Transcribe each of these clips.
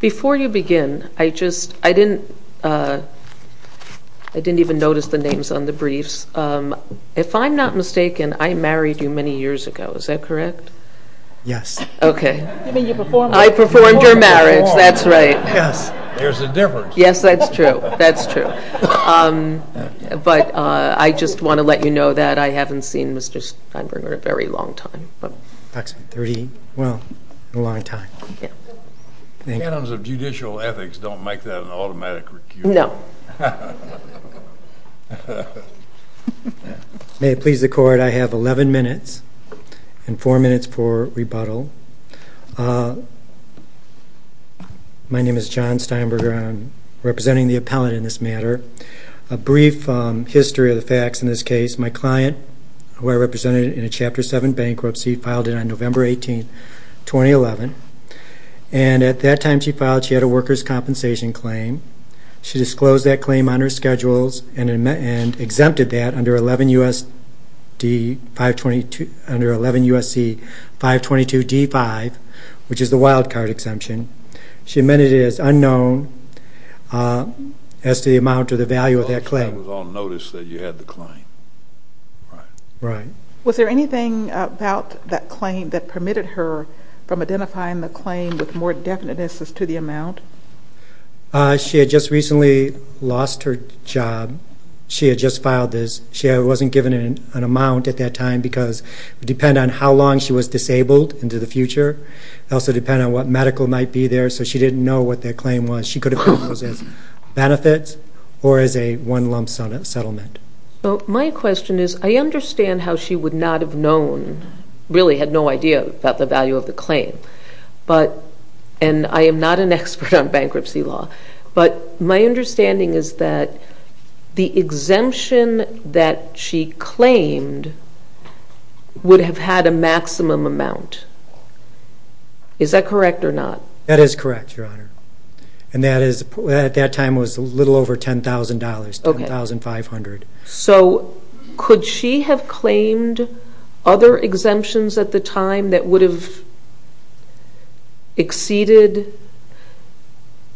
Before you begin, I didn't even notice the names on the briefs. If I'm not mistaken, I married you many years ago, is that correct? Yes. I performed your marriage, that's right. There's a difference. Yes, that's true, that's true. But I just want to let you know that I haven't seen Mr. Steinbruner in a very long time. In a long time. Canons of judicial ethics don't make that an automatic recusal. No. May it please the court, I have 11 minutes and four minutes for rebuttal. My name is John Steinbruner, I'm representing the appellate in this matter. A brief history of the facts in this case, my client, who I represented in a Chapter 7 bankruptcy, filed it on November 18, 2011. And at that time she filed, she had a workers' compensation claim. She disclosed that claim on her schedules and exempted that under 11 U.S.C. 522 D-5, which is the wildcard exemption. She amended it as unknown as to the amount or the value of that claim. I was on notice that you had the claim. Right. Was there anything about that claim that permitted her from identifying the claim with more definiteness as to the amount? She had just recently lost her job. She had just filed this. She wasn't given an amount at that time because it would depend on how long she was disabled into the future. It would also depend on what medical might be there. So she didn't know what that claim was. She could have found those as benefits or as a one-lump settlement. So my question is, I understand how she would not have really had no idea about the value of the claim. And I am not an expert on bankruptcy law. But my understanding is that the exemption that she claimed would have had a maximum amount. Is that correct or not? That is correct, Your Honor. And at that time it was a little over $10,000, $10,500. So could she have claimed other exemptions at the time that would have exceeded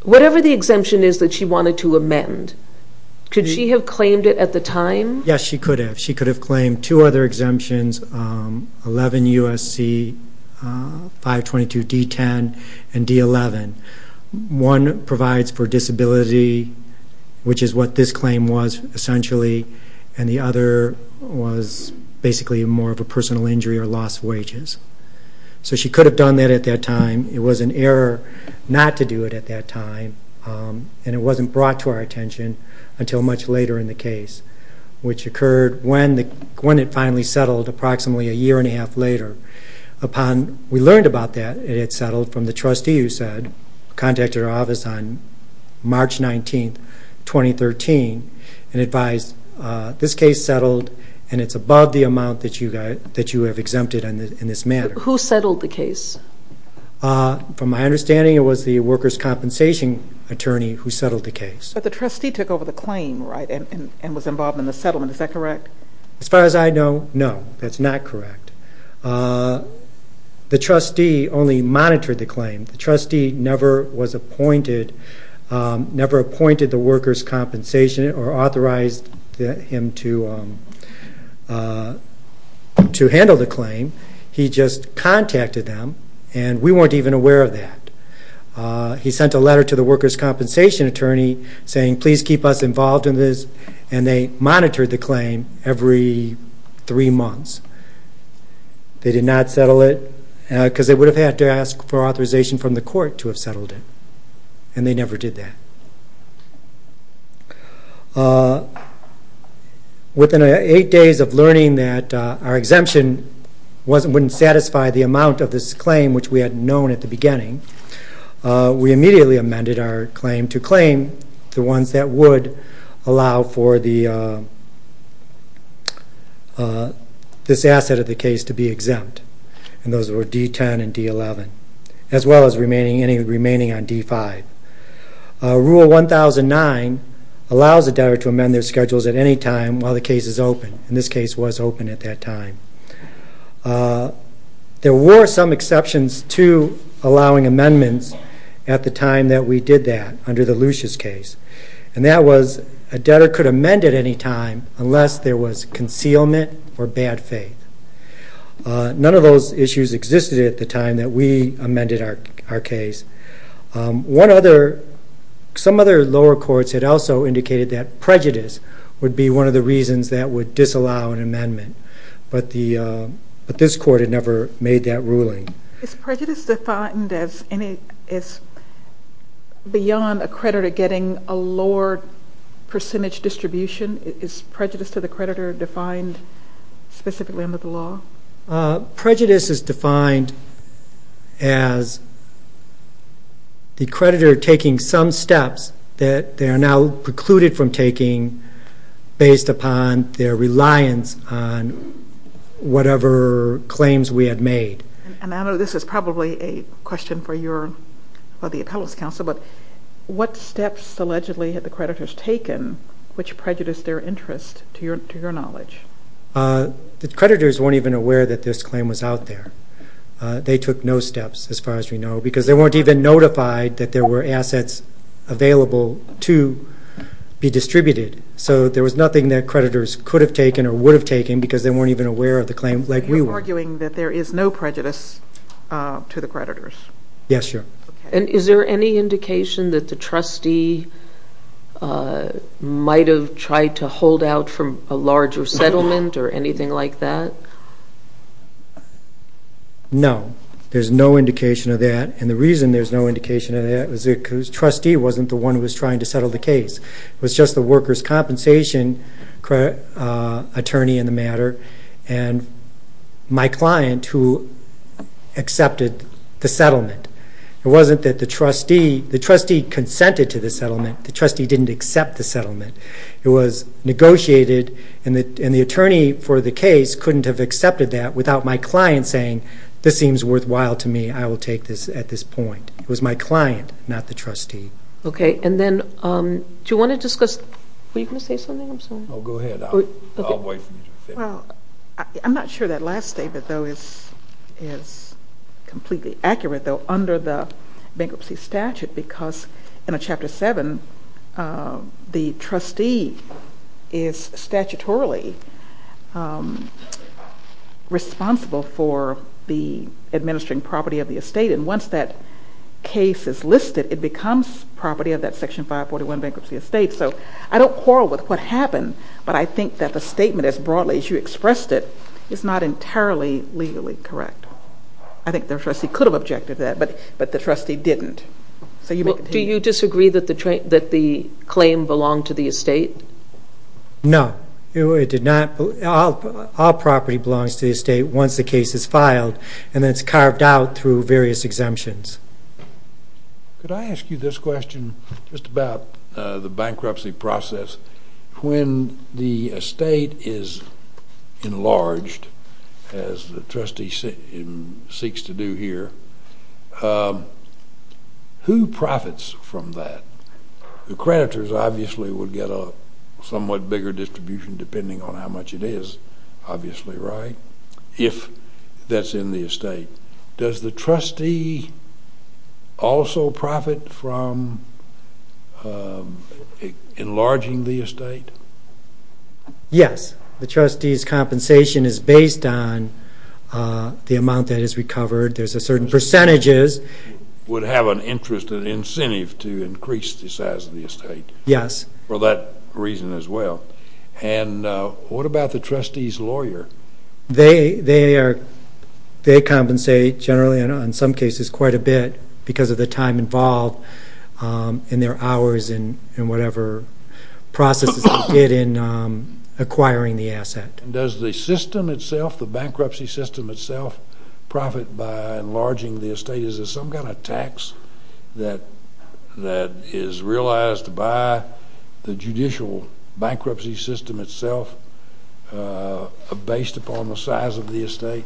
whatever the exemption is that she wanted to amend? Could she have claimed it at the time? Yes, she could have. She could have claimed two other exemptions, 11 U.S.C. 522 D-10 and D-11. One provides for disability and the other was basically more of a personal injury or lost wages. So she could have done that at that time. It was an error not to do it at that time. And it wasn't brought to our attention until much later in the case, which occurred when it finally settled approximately a year and a half later. We learned about that it had settled from the trustee who contacted our on May 17, 2013 and advised this case settled and it's above the amount that you have exempted in this manner. Who settled the case? From my understanding it was the workers' compensation attorney who settled the case. But the trustee took over the claim, right, and was involved in the settlement. Is that correct? As far as I know, no, that's not correct. The trustee only monitored the claim. The trustee never was appointed, never appointed the workers' compensation or authorized him to handle the claim. He just contacted them and we weren't even aware of that. He sent a letter to the workers' compensation attorney saying please keep us involved in this and they monitored the claim every three months. They did not settle it and they never did that. Within eight days of learning that our exemption wouldn't satisfy the amount of this claim, which we had known at the beginning, we immediately amended our claim to claim the ones that would allow for this asset of the case to be exempt. And those were D10 and D11, as well as remaining any on D5. Rule 1009 allows a debtor to amend their schedules at any time while the case is open. And this case was open at that time. There were some exceptions to allowing amendments at the time that we did that under the Lucia's case. And that was a debtor could amend at any time unless there was concealment or bad faith. None of those issues existed at the time that we amended our case. One other, some other lower courts had also indicated that prejudice would be one of the reasons that would disallow an amendment. But this court had never made that ruling. Is prejudice defined as beyond a creditor getting a lower percentage distribution? Is prejudice to the creditor defined specifically under the law? Prejudice is defined as the creditor taking some steps that they are now precluded from taking based upon their reliance on whatever claims we had made. And I know this is probably a question for your, for the knowledge. The creditors weren't even aware that this claim was out there. They took no steps as far as we know because they weren't even notified that there were assets available to be distributed. So there was nothing that creditors could have taken or would have taken because they weren't even aware of the claim like we were. You're arguing that there is no prejudice to the settlement or anything like that? No, there's no indication of that. And the reason there's no indication of that is because the trustee wasn't the one who was trying to settle the case. It was just the workers' compensation attorney in the matter and my client who accepted the settlement. It wasn't that the trustee, the trustee consented to the settlement. The trustee didn't accept the settlement. It was that, and the attorney for the case couldn't have accepted that without my client saying, this seems worthwhile to me. I will take this at this point. It was my client, not the trustee. Okay, and then do you want to discuss, were you going to say something? I'm sorry. Oh, go ahead. I'll wait for you to finish. I'm not sure that last statement though is completely accurate though under the bankruptcy statute because in a Chapter 7, the trustee is statutorily responsible for the administering property of the estate and once that case is listed, it becomes property of that Section 541 bankruptcy estate. So I don't quarrel with what happened, but I think that the statement as Do you disagree that the claim belonged to the estate? No, it did not. All property belongs to the estate once the case is filed and it's carved out through various exemptions. Could I ask you this question just about the bankruptcy process? When the estate is enlarged, as the trustee seeks to do here, who profits from that? The creditors obviously would get a somewhat bigger distribution depending on how much it is obviously, right, if that's in the estate. Does the trustee also profit from enlarging the estate? Yes, the trustee's compensation is based on the amount that is recovered. There's certain percentages. Would have an interest and incentive to increase the size of the estate? Yes. For that reason as well. And what about the trustee's lawyer? They compensate generally and in some cases quite a bit because of the time involved in their hours and whatever processes they did in enlarging the estate. Is there some kind of tax that is realized by the judicial bankruptcy system itself based upon the size of the estate?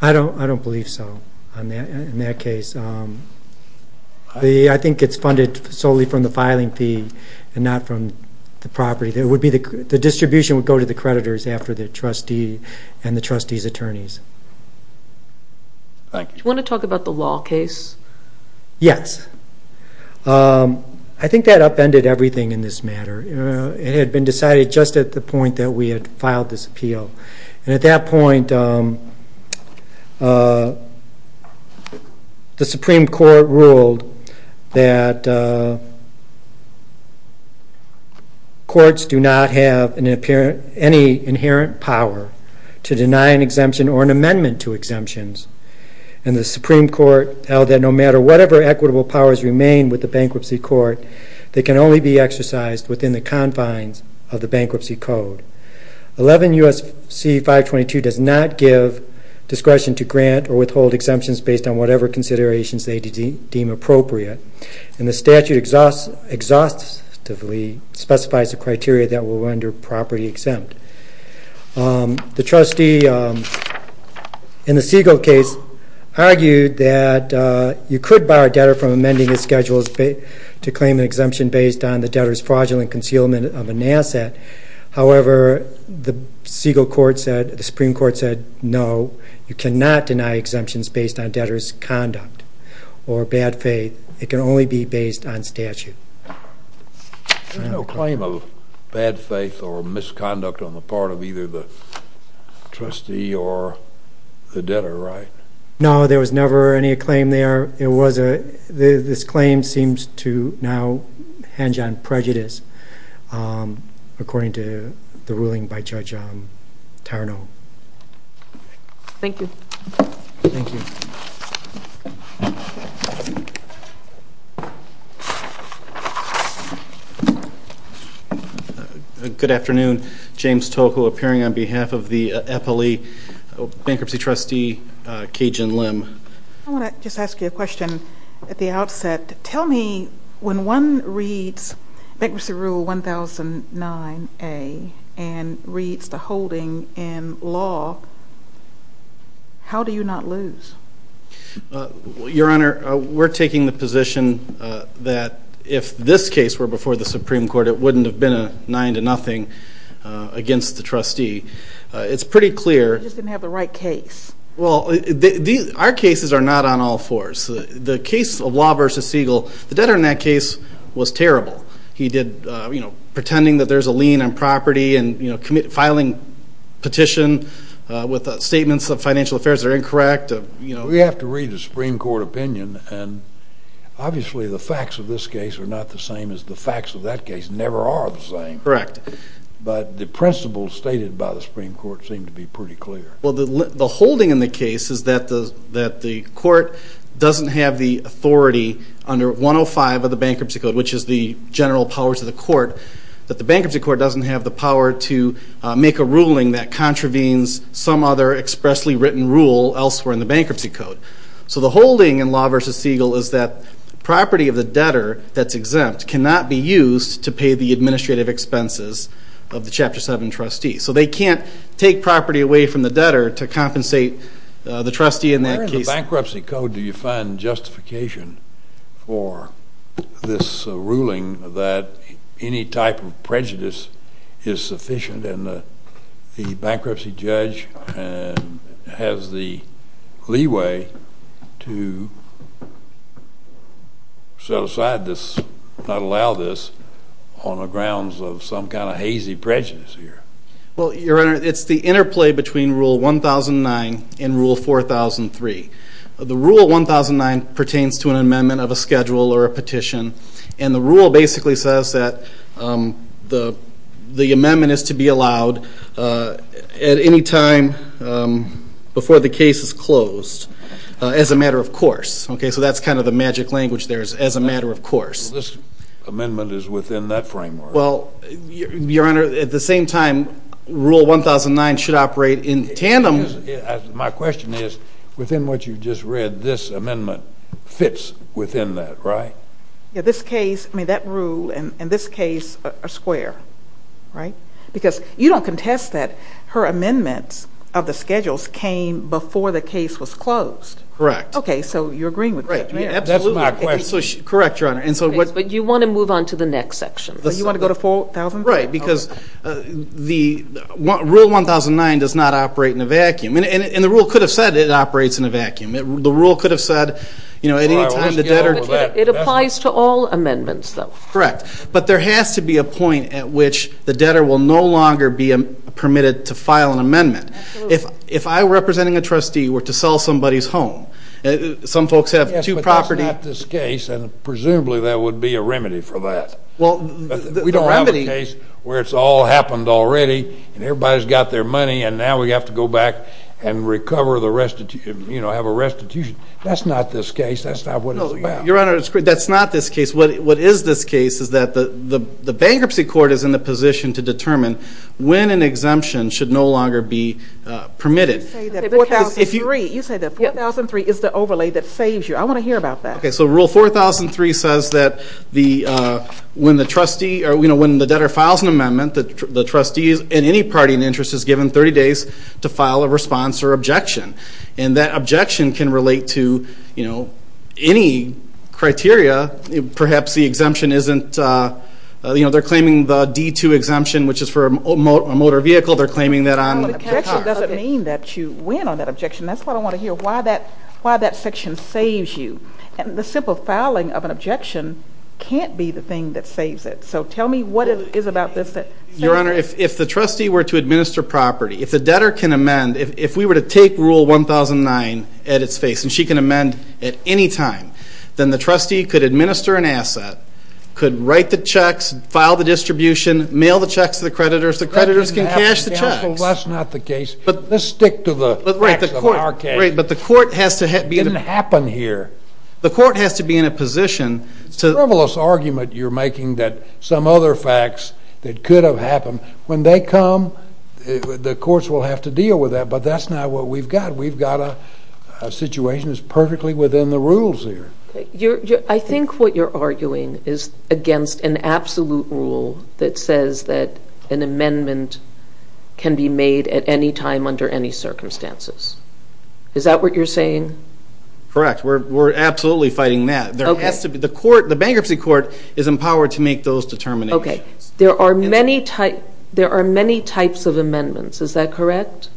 I don't believe so in that case. I think it's funded solely from the filing fee and not from the property. The distribution would go to the creditors after the trustee and the Do you want to talk about the law case? Yes. I think that upended everything in this matter. It had been decided just at the point that we had filed this and the Supreme Court held that no matter whatever equitable powers remain with the Bankruptcy Court, they can only be exercised within the confines of the Bankruptcy Code. 11 U.S.C. 522 does not give discretion to grant or withhold exemptions based on whatever considerations they deem appropriate and the statute exhaustively specifies the criteria that will render property exempt. The trustee in the Siegel case argued that you could bar a debtor from amending his schedule to claim an exemption based on the debtor's fraudulent concealment of an asset. However, the Supreme Court said no, you cannot deny exemptions based on the statute. There was no claim of bad faith or misconduct on the part of either the trustee or the debtor, right? No, there was never any claim there. This claim seems to now hinge on prejudice according to the ruling by Judge Tarnow. Thank you. Thank you. Good afternoon. James Tocco appearing on behalf of the FLE Bankruptcy Trustee Kajen Lim. I want to just ask you a question at the outset. Tell me when one reads Bankruptcy Rule 1009A and reads the holding in law, how do you not lose? Your Honor, we're taking the position that if this case were before the Supreme Court, it wouldn't have been a nine to nothing against the trustee. It's pretty clear You just didn't have the right case. Well, our cases are not on all fours. The case of Law v. Siegel, the debtor in that case was terrible. He did, you know, pretending that there's a lien on property and filing a petition with statements of financial affairs that are incorrect. We have to read the Supreme Court opinion, and obviously the facts of this case are not the same as the facts of that case, never are the same. Correct. But the principles stated by the Supreme Court seem to be pretty clear. Well, the holding in the case is that the court doesn't have the authority under 105 of the Bankruptcy Code, which is the general powers of the court, that the Bankruptcy Court doesn't have the power to make a ruling that contravenes some other expressly written rule elsewhere in the Bankruptcy Code. So the holding in Law v. Siegel is that property of the debtor that's exempt cannot be used to pay the administrative expenses of the Chapter 7 trustee. So they can't take property away from the debtor to compensate the trustee in that case. Where in the Bankruptcy Code do you find justification for this ruling that any type of prejudice is sufficient and the bankruptcy judge has the leeway to set aside this, not allow this, on the grounds of some kind of hazy prejudice here? Well, Your Honor, it's the interplay between Rule 1009 and Rule 4003. The Rule 1009 pertains to an amendment of a schedule or a petition, and the rule basically says that the amendment is to be allowed at any time before the case is closed as a matter of course. Okay, so that's kind of the magic language there is, as a matter of course. This amendment is within that framework. Well, Your Honor, at the same time, Rule 1009 should operate in tandem. My question is, within what you just read, this amendment fits within that, right? Yeah, this case, I mean, that rule and this case are square, right? Because you don't contest that her amendments of the schedules came before the case was closed. Correct. Okay, so you're agreeing with that, right? Absolutely. That's my question. Correct, Your Honor. But you want to move on to the next section. You want to go to 4000? Right, because Rule 1009 does not operate in a vacuum. And the rule could have said it operates in a vacuum. The rule could have said at any time the debtor It applies to all amendments, though. Correct. But there has to be a point at which the debtor will no longer be permitted to file an amendment. Absolutely. If I, representing a trustee, were to sell somebody's home, some folks have two properties Yes, but that's not this case, and presumably there would be a remedy for that. Well, the remedy We don't have a case where it's all happened already, and everybody's got their money, and now we have to go back and recover the restitution, you know, have a restitution. That's not this case. That's not what it's about. No, Your Honor, that's not this case. What is this case is that the bankruptcy court is in the position to determine when an exemption should no longer be permitted. You say that 4003 is the overlay that saves you. I want to hear about that. Okay, so Rule 4003 says that when the debtor files an amendment, the trustee in any party and interest is given 30 days to file a response or objection. And that objection can relate to, you know, any criteria. Perhaps the exemption isn't, you know, they're claiming the D2 exemption, which is for a motor vehicle. They're claiming that on cars. Well, an objection doesn't mean that you win on that objection. That's what I want to hear, why that section saves you. And the simple filing of an objection can't be the thing that saves it. So tell me what it is about this that saves you. Your Honor, if the trustee were to administer property, if the debtor can amend, if we were to take Rule 1009 at its face and she can amend at any time, then the trustee could administer an asset, could write the checks, file the distribution, mail the checks to the creditors, the creditors can cash the checks. Counsel, that's not the case. Let's stick to the facts of our case. Right, but the court has to be in a position. It didn't happen here. The court has to be in a position to. It's a frivolous argument you're making that some other facts that could have happened. When they come, the courts will have to deal with that. But that's not what we've got. We've got a situation that's perfectly within the rules here. I think what you're arguing is against an absolute rule that says that an amendment can be made at any time under any circumstances. Is that what you're saying? Correct. We're absolutely fighting that. The bankruptcy court is empowered to make those determinations. Okay. There are many types of amendments. Is that correct?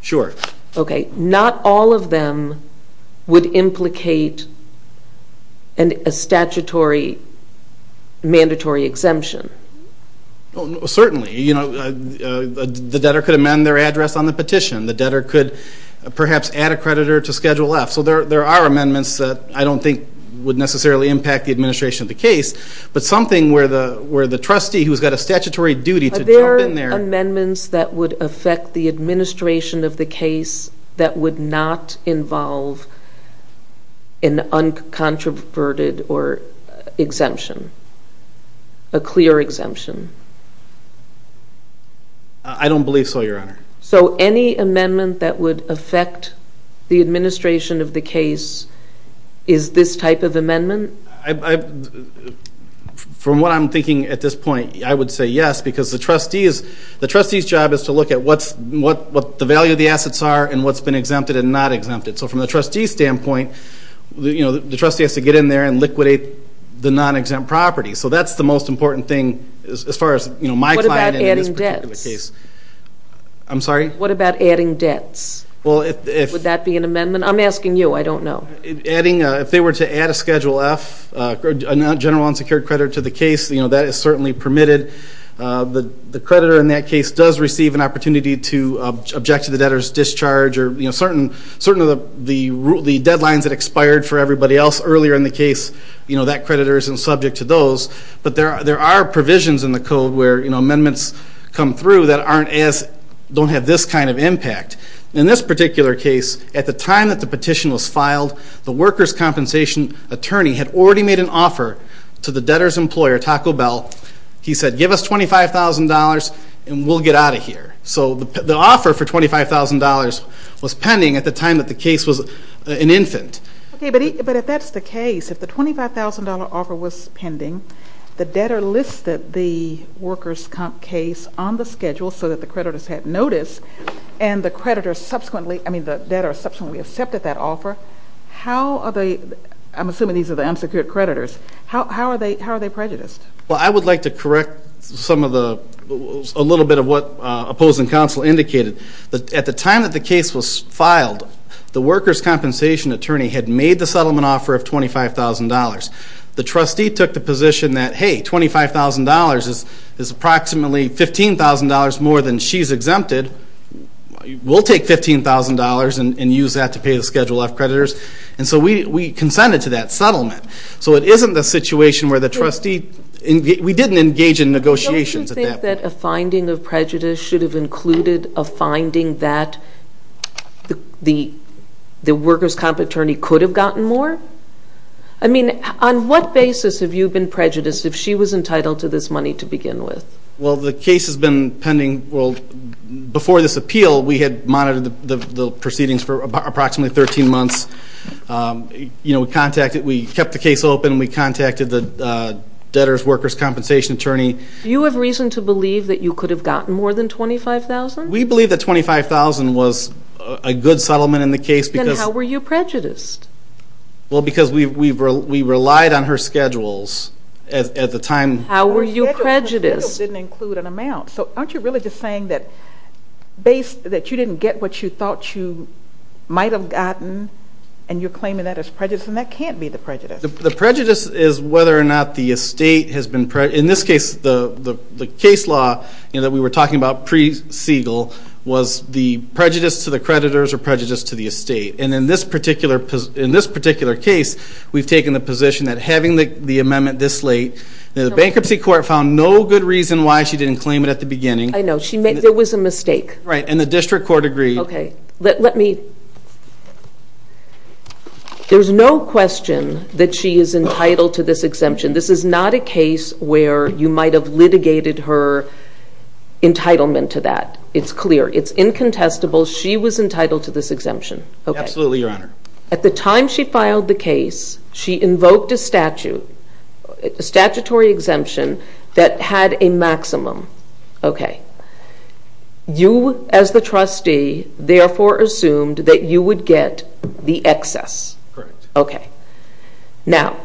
Sure. Okay. Not all of them would implicate a statutory mandatory exemption. Certainly. The debtor could amend their address on the petition. The debtor could perhaps add a creditor to Schedule F. So there are amendments that I don't think would necessarily impact the administration of the case, but something where the trustee who's got a statutory duty to jump in there. Are there amendments that would affect the administration of the case that would not involve an uncontroverted exemption, a clear exemption? I don't believe so, Your Honor. So any amendment that would affect the administration of the case is this type of amendment? From what I'm thinking at this point, I would say yes, because the trustee's job is to look at what the value of the assets are and what's been exempted and not exempted. So from the trustee's standpoint, the trustee has to get in there and liquidate the non-exempt property. So that's the most important thing as far as my client in this particular case. What about adding debts? I'm sorry? What about adding debts? Would that be an amendment? I'm asking you. I don't know. If they were to add a Schedule F, a general unsecured credit, to the case, that is certainly permitted. The creditor in that case does receive an opportunity to object to the debtor's discharge or certain of the deadlines that expired for everybody else earlier in the case, that creditor isn't subject to those. But there are provisions in the code where amendments come through that don't have this kind of impact. In this particular case, at the time that the petition was filed, the workers' compensation attorney had already made an offer to the debtor's employer, Taco Bell. He said, Give us $25,000 and we'll get out of here. So the offer for $25,000 was pending at the time that the case was an infant. But if that's the case, if the $25,000 offer was pending, the debtor listed the workers' case on the schedule so that the creditor has had notice and the creditor subsequently, I mean, the debtor subsequently accepted that offer, how are they, I'm assuming these are the unsecured creditors, how are they prejudiced? Well, I would like to correct a little bit of what opposing counsel indicated. At the time that the case was filed, the workers' compensation attorney had made the settlement offer of $25,000. The trustee took the position that, Hey, $25,000 is approximately $15,000 more than she's exempted. We'll take $15,000 and use that to pay the Schedule F creditors. And so we consented to that settlement. So it isn't the situation where the trustee, we didn't engage in negotiations at that point. Don't you think that a finding of prejudice should have included a finding that the workers' compensation attorney could have gotten more? I mean, on what basis have you been prejudiced if she was entitled to this money to begin with? Well, the case has been pending, well, before this appeal, we had monitored the proceedings for approximately 13 months. You know, we contacted, we kept the case open, we contacted the debtors' workers' compensation attorney. Do you have reason to believe that you could have gotten more than $25,000? We believe that $25,000 was a good settlement in the case because Then how were you prejudiced? Well, because we relied on her schedules at the time. How were you prejudiced? Schedules didn't include an amount. So aren't you really just saying that you didn't get what you thought you might have gotten and you're claiming that as prejudice, and that can't be the prejudice. The prejudice is whether or not the estate has been, in this case, the case law that we were talking about pre-Segal was the prejudice to the creditors or prejudice to the estate. And in this particular case, we've taken the position that having the amendment this late, the bankruptcy court found no good reason why she didn't claim it at the beginning. I know, there was a mistake. Right, and the district court agreed. Okay, let me, there's no question that she is entitled to this exemption. This is not a case where you might have litigated her entitlement to that. It's clear, it's incontestable. She was entitled to this exemption. Absolutely, Your Honor. At the time she filed the case, she invoked a statutory exemption that had a maximum. Okay. You, as the trustee, therefore assumed that you would get the excess. Correct. Okay. Now,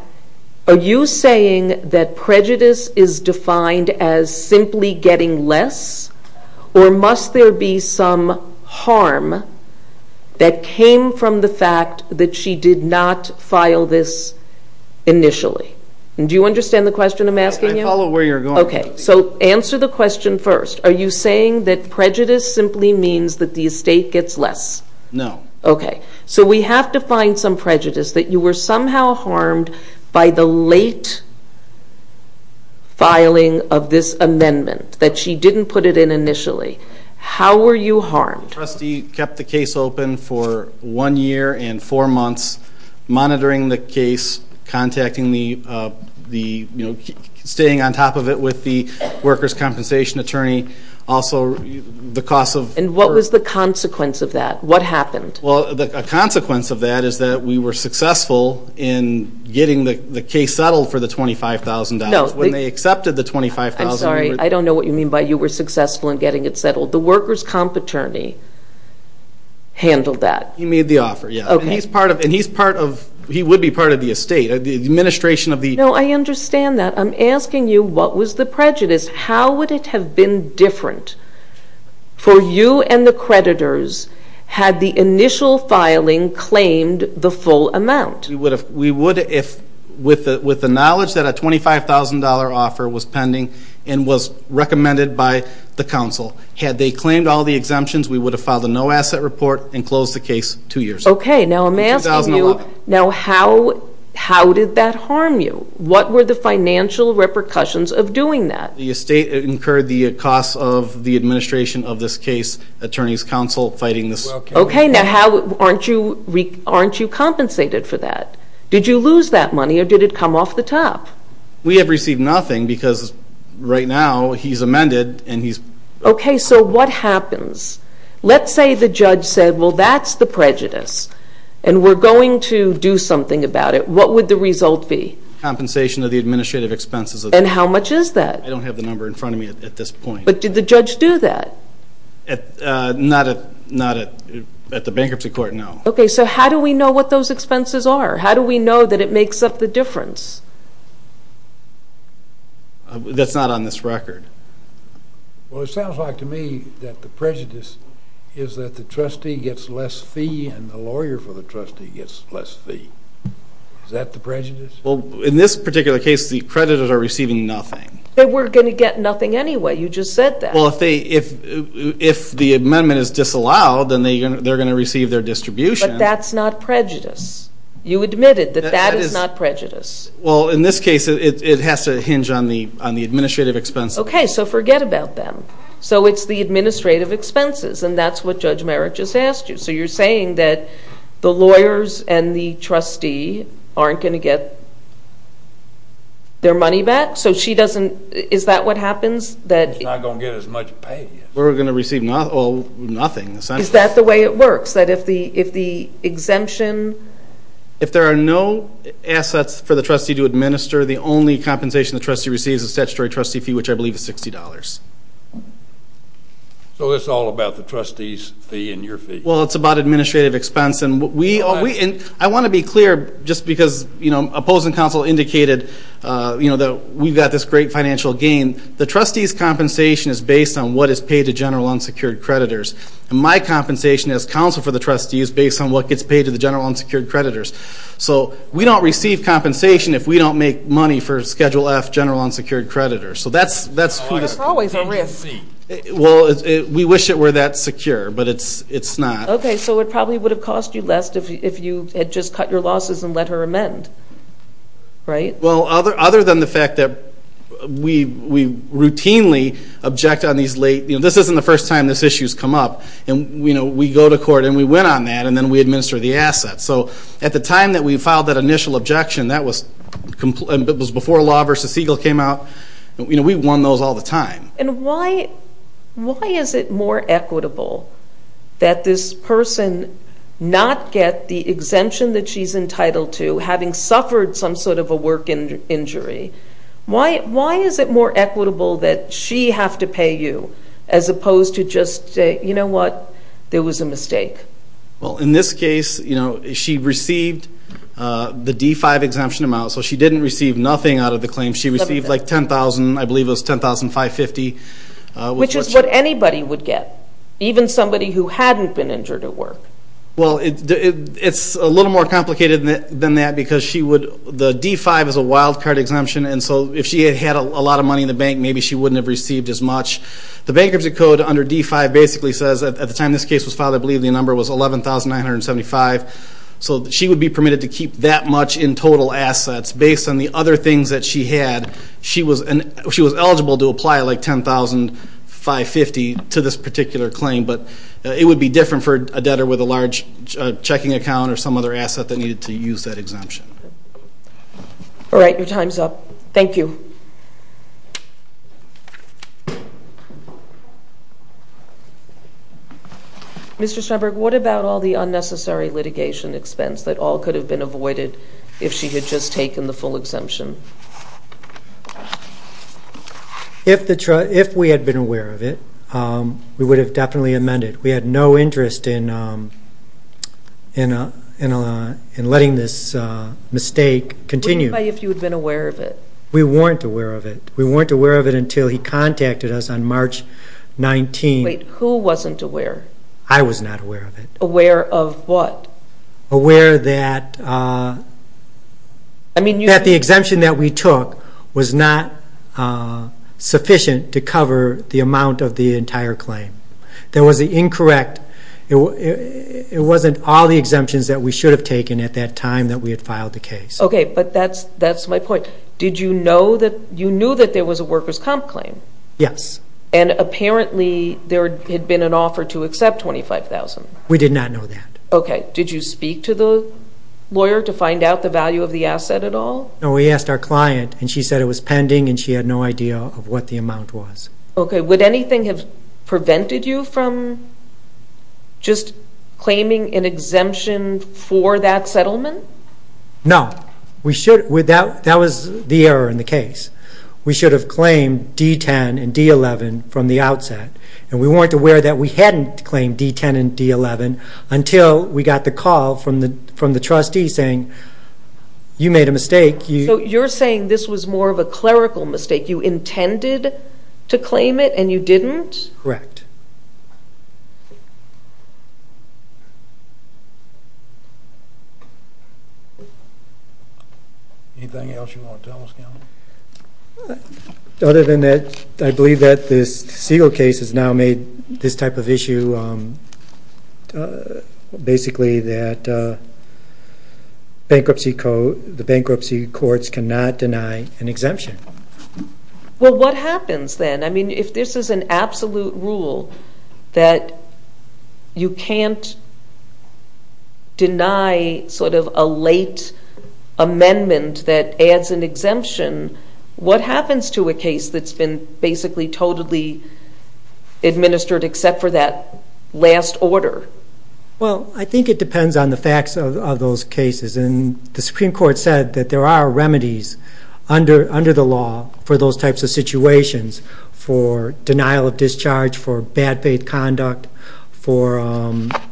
are you saying that prejudice is defined as simply getting less or must there be some harm that came from the fact that she did not file this initially? Do you understand the question I'm asking you? I follow where you're going. Okay, so answer the question first. Are you saying that prejudice simply means that the estate gets less? No. Okay, so we have to find some prejudice that you were somehow harmed by the late filing of this amendment, that she didn't put it in initially. How were you harmed? The trustee kept the case open for one year and four months, monitoring the case, contacting the, you know, staying on top of it with the workers' compensation attorney, also the cost of And what was the consequence of that? What happened? Well, a consequence of that is that we were successful in getting the case settled for the $25,000. No. When they accepted the $25,000 I'm sorry, I don't know what you mean by you were successful in getting it settled. The workers' comp attorney handled that. He made the offer, yeah. Okay. And he's part of, he would be part of the estate. The administration of the No, I understand that. I'm asking you what was the prejudice? How would it have been different for you and the creditors had the initial filing claimed the full amount? We would have, with the knowledge that a $25,000 offer was pending and was recommended by the council. Had they claimed all the exemptions, we would have filed a no-asset report and closed the case two years later. Okay, now I'm asking you, now how did that harm you? What were the financial repercussions of doing that? The estate incurred the costs of the administration of this case, attorneys' council fighting this. Okay, now aren't you compensated for that? Did you lose that money or did it come off the top? We have received nothing because right now he's amended and he's Okay, so what happens? Let's say the judge said, well, that's the prejudice and we're going to do something about it. What would the result be? Compensation of the administrative expenses. And how much is that? I don't have the number in front of me at this point. But did the judge do that? Not at the bankruptcy court, no. Okay, so how do we know what those expenses are? How do we know that it makes up the difference? That's not on this record. Well, it sounds like to me that the prejudice is that the trustee gets less fee and the lawyer for the trustee gets less fee. Is that the prejudice? Well, in this particular case, the creditors are receiving nothing. They were going to get nothing anyway. You just said that. Well, if the amendment is disallowed, then they're going to receive their distribution. But that's not prejudice. You admitted that that is not prejudice. Well, in this case, it has to hinge on the administrative expenses. Okay, so forget about them. So it's the administrative expenses, and that's what Judge Merrick just asked you. So you're saying that the lawyers and the trustee aren't going to get their money back? So she doesn't – is that what happens? It's not going to get as much pay. We're going to receive nothing. Is that the way it works, that if the exemption? If there are no assets for the trustee to administer, the only compensation the trustee receives is statutory trustee fee, which I believe is $60. So it's all about the trustee's fee and your fee. Well, it's about administrative expense. I want to be clear, just because opposing counsel indicated that we've got this great financial gain. The trustee's compensation is based on what is paid to general unsecured creditors, and my compensation as counsel for the trustee is based on what gets paid to the general unsecured creditors. So we don't receive compensation if we don't make money for Schedule F general unsecured creditors. That's always a risk. Well, we wish it were that secure, but it's not. Okay, so it probably would have cost you less if you had just cut your losses and let her amend, right? Well, other than the fact that we routinely object on these late, you know, this isn't the first time this issue has come up. And, you know, we go to court and we win on that, and then we administer the assets. So at the time that we filed that initial objection, that was before Law v. Siegel came out. You know, we won those all the time. And why is it more equitable that this person not get the exemption that she's entitled to, having suffered some sort of a work injury? Why is it more equitable that she have to pay you as opposed to just say, you know what, there was a mistake? Well, in this case, you know, she received the D-5 exemption amount, so she didn't receive nothing out of the claim. She received like $10,000, I believe it was $10,550. Which is what anybody would get, even somebody who hadn't been injured at work. Well, it's a little more complicated than that because the D-5 is a wild card exemption, and so if she had had a lot of money in the bank, maybe she wouldn't have received as much. The bankruptcy code under D-5 basically says, at the time this case was filed, I believe the number was $11,975. So she would be permitted to keep that much in total assets based on the other things that she had. She was eligible to apply like $10,550 to this particular claim, but it would be different for a debtor with a large checking account or some other asset that needed to use that exemption. All right. Your time's up. Thank you. Mr. Steinberg, what about all the unnecessary litigation expense that all could have been avoided if she had just taken the full exemption? If we had been aware of it, we would have definitely amended. We had no interest in letting this mistake continue. What about if you had been aware of it? We weren't aware of it. We weren't aware of it until he contacted us on March 19th. Wait. Who wasn't aware? I was not aware of it. Aware of what? Aware that the exemption that we took was not sufficient to cover the amount of the entire claim. That was incorrect. It wasn't all the exemptions that we should have taken at that time that we had filed the case. Okay, but that's my point. Did you know that there was a workers' comp claim? Yes. And apparently there had been an offer to accept $25,000. We did not know that. Okay. Did you speak to the lawyer to find out the value of the asset at all? No, we asked our client, and she said it was pending, and she had no idea of what the amount was. Okay. Would anything have prevented you from just claiming an exemption for that settlement? No. That was the error in the case. We should have claimed D-10 and D-11 from the outset, and we weren't aware that we hadn't claimed D-10 and D-11 until we got the call from the trustee saying, you made a mistake. So you're saying this was more of a clerical mistake? You intended to claim it and you didn't? Correct. Anything else you want to tell us, Counsel? Other than that, I believe that this Siegel case has now made this type of issue, basically that the bankruptcy courts cannot deny an exemption. Well, what happens then? I mean, if this is an absolute rule that you can't deny sort of a late amendment that adds an exemption, what happens to a case that's been basically totally administered except for that last order? Well, I think it depends on the facts of those cases, and the Supreme Court said that there are remedies under the law for those types of situations, for denial of discharge, for bad faith conduct, for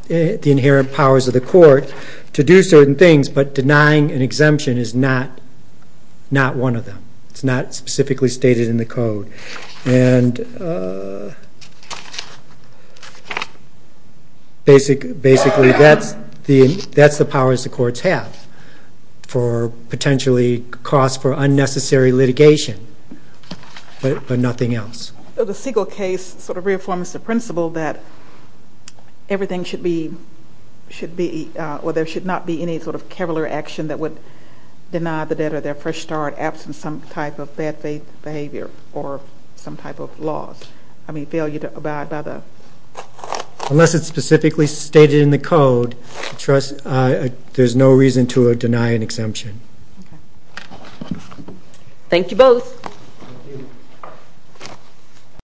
the inherent powers of the court to do certain things, but denying an exemption is not one of them. It's not specifically stated in the code. And basically that's the powers the courts have for potentially costs for unnecessary litigation, but nothing else. So the Siegel case sort of reaffirms the principle that everything should be or there should not be any sort of I mean, failure to abide by the... Unless it's specifically stated in the code, there's no reason to deny an exemption. Okay. Thank you both. Thank you.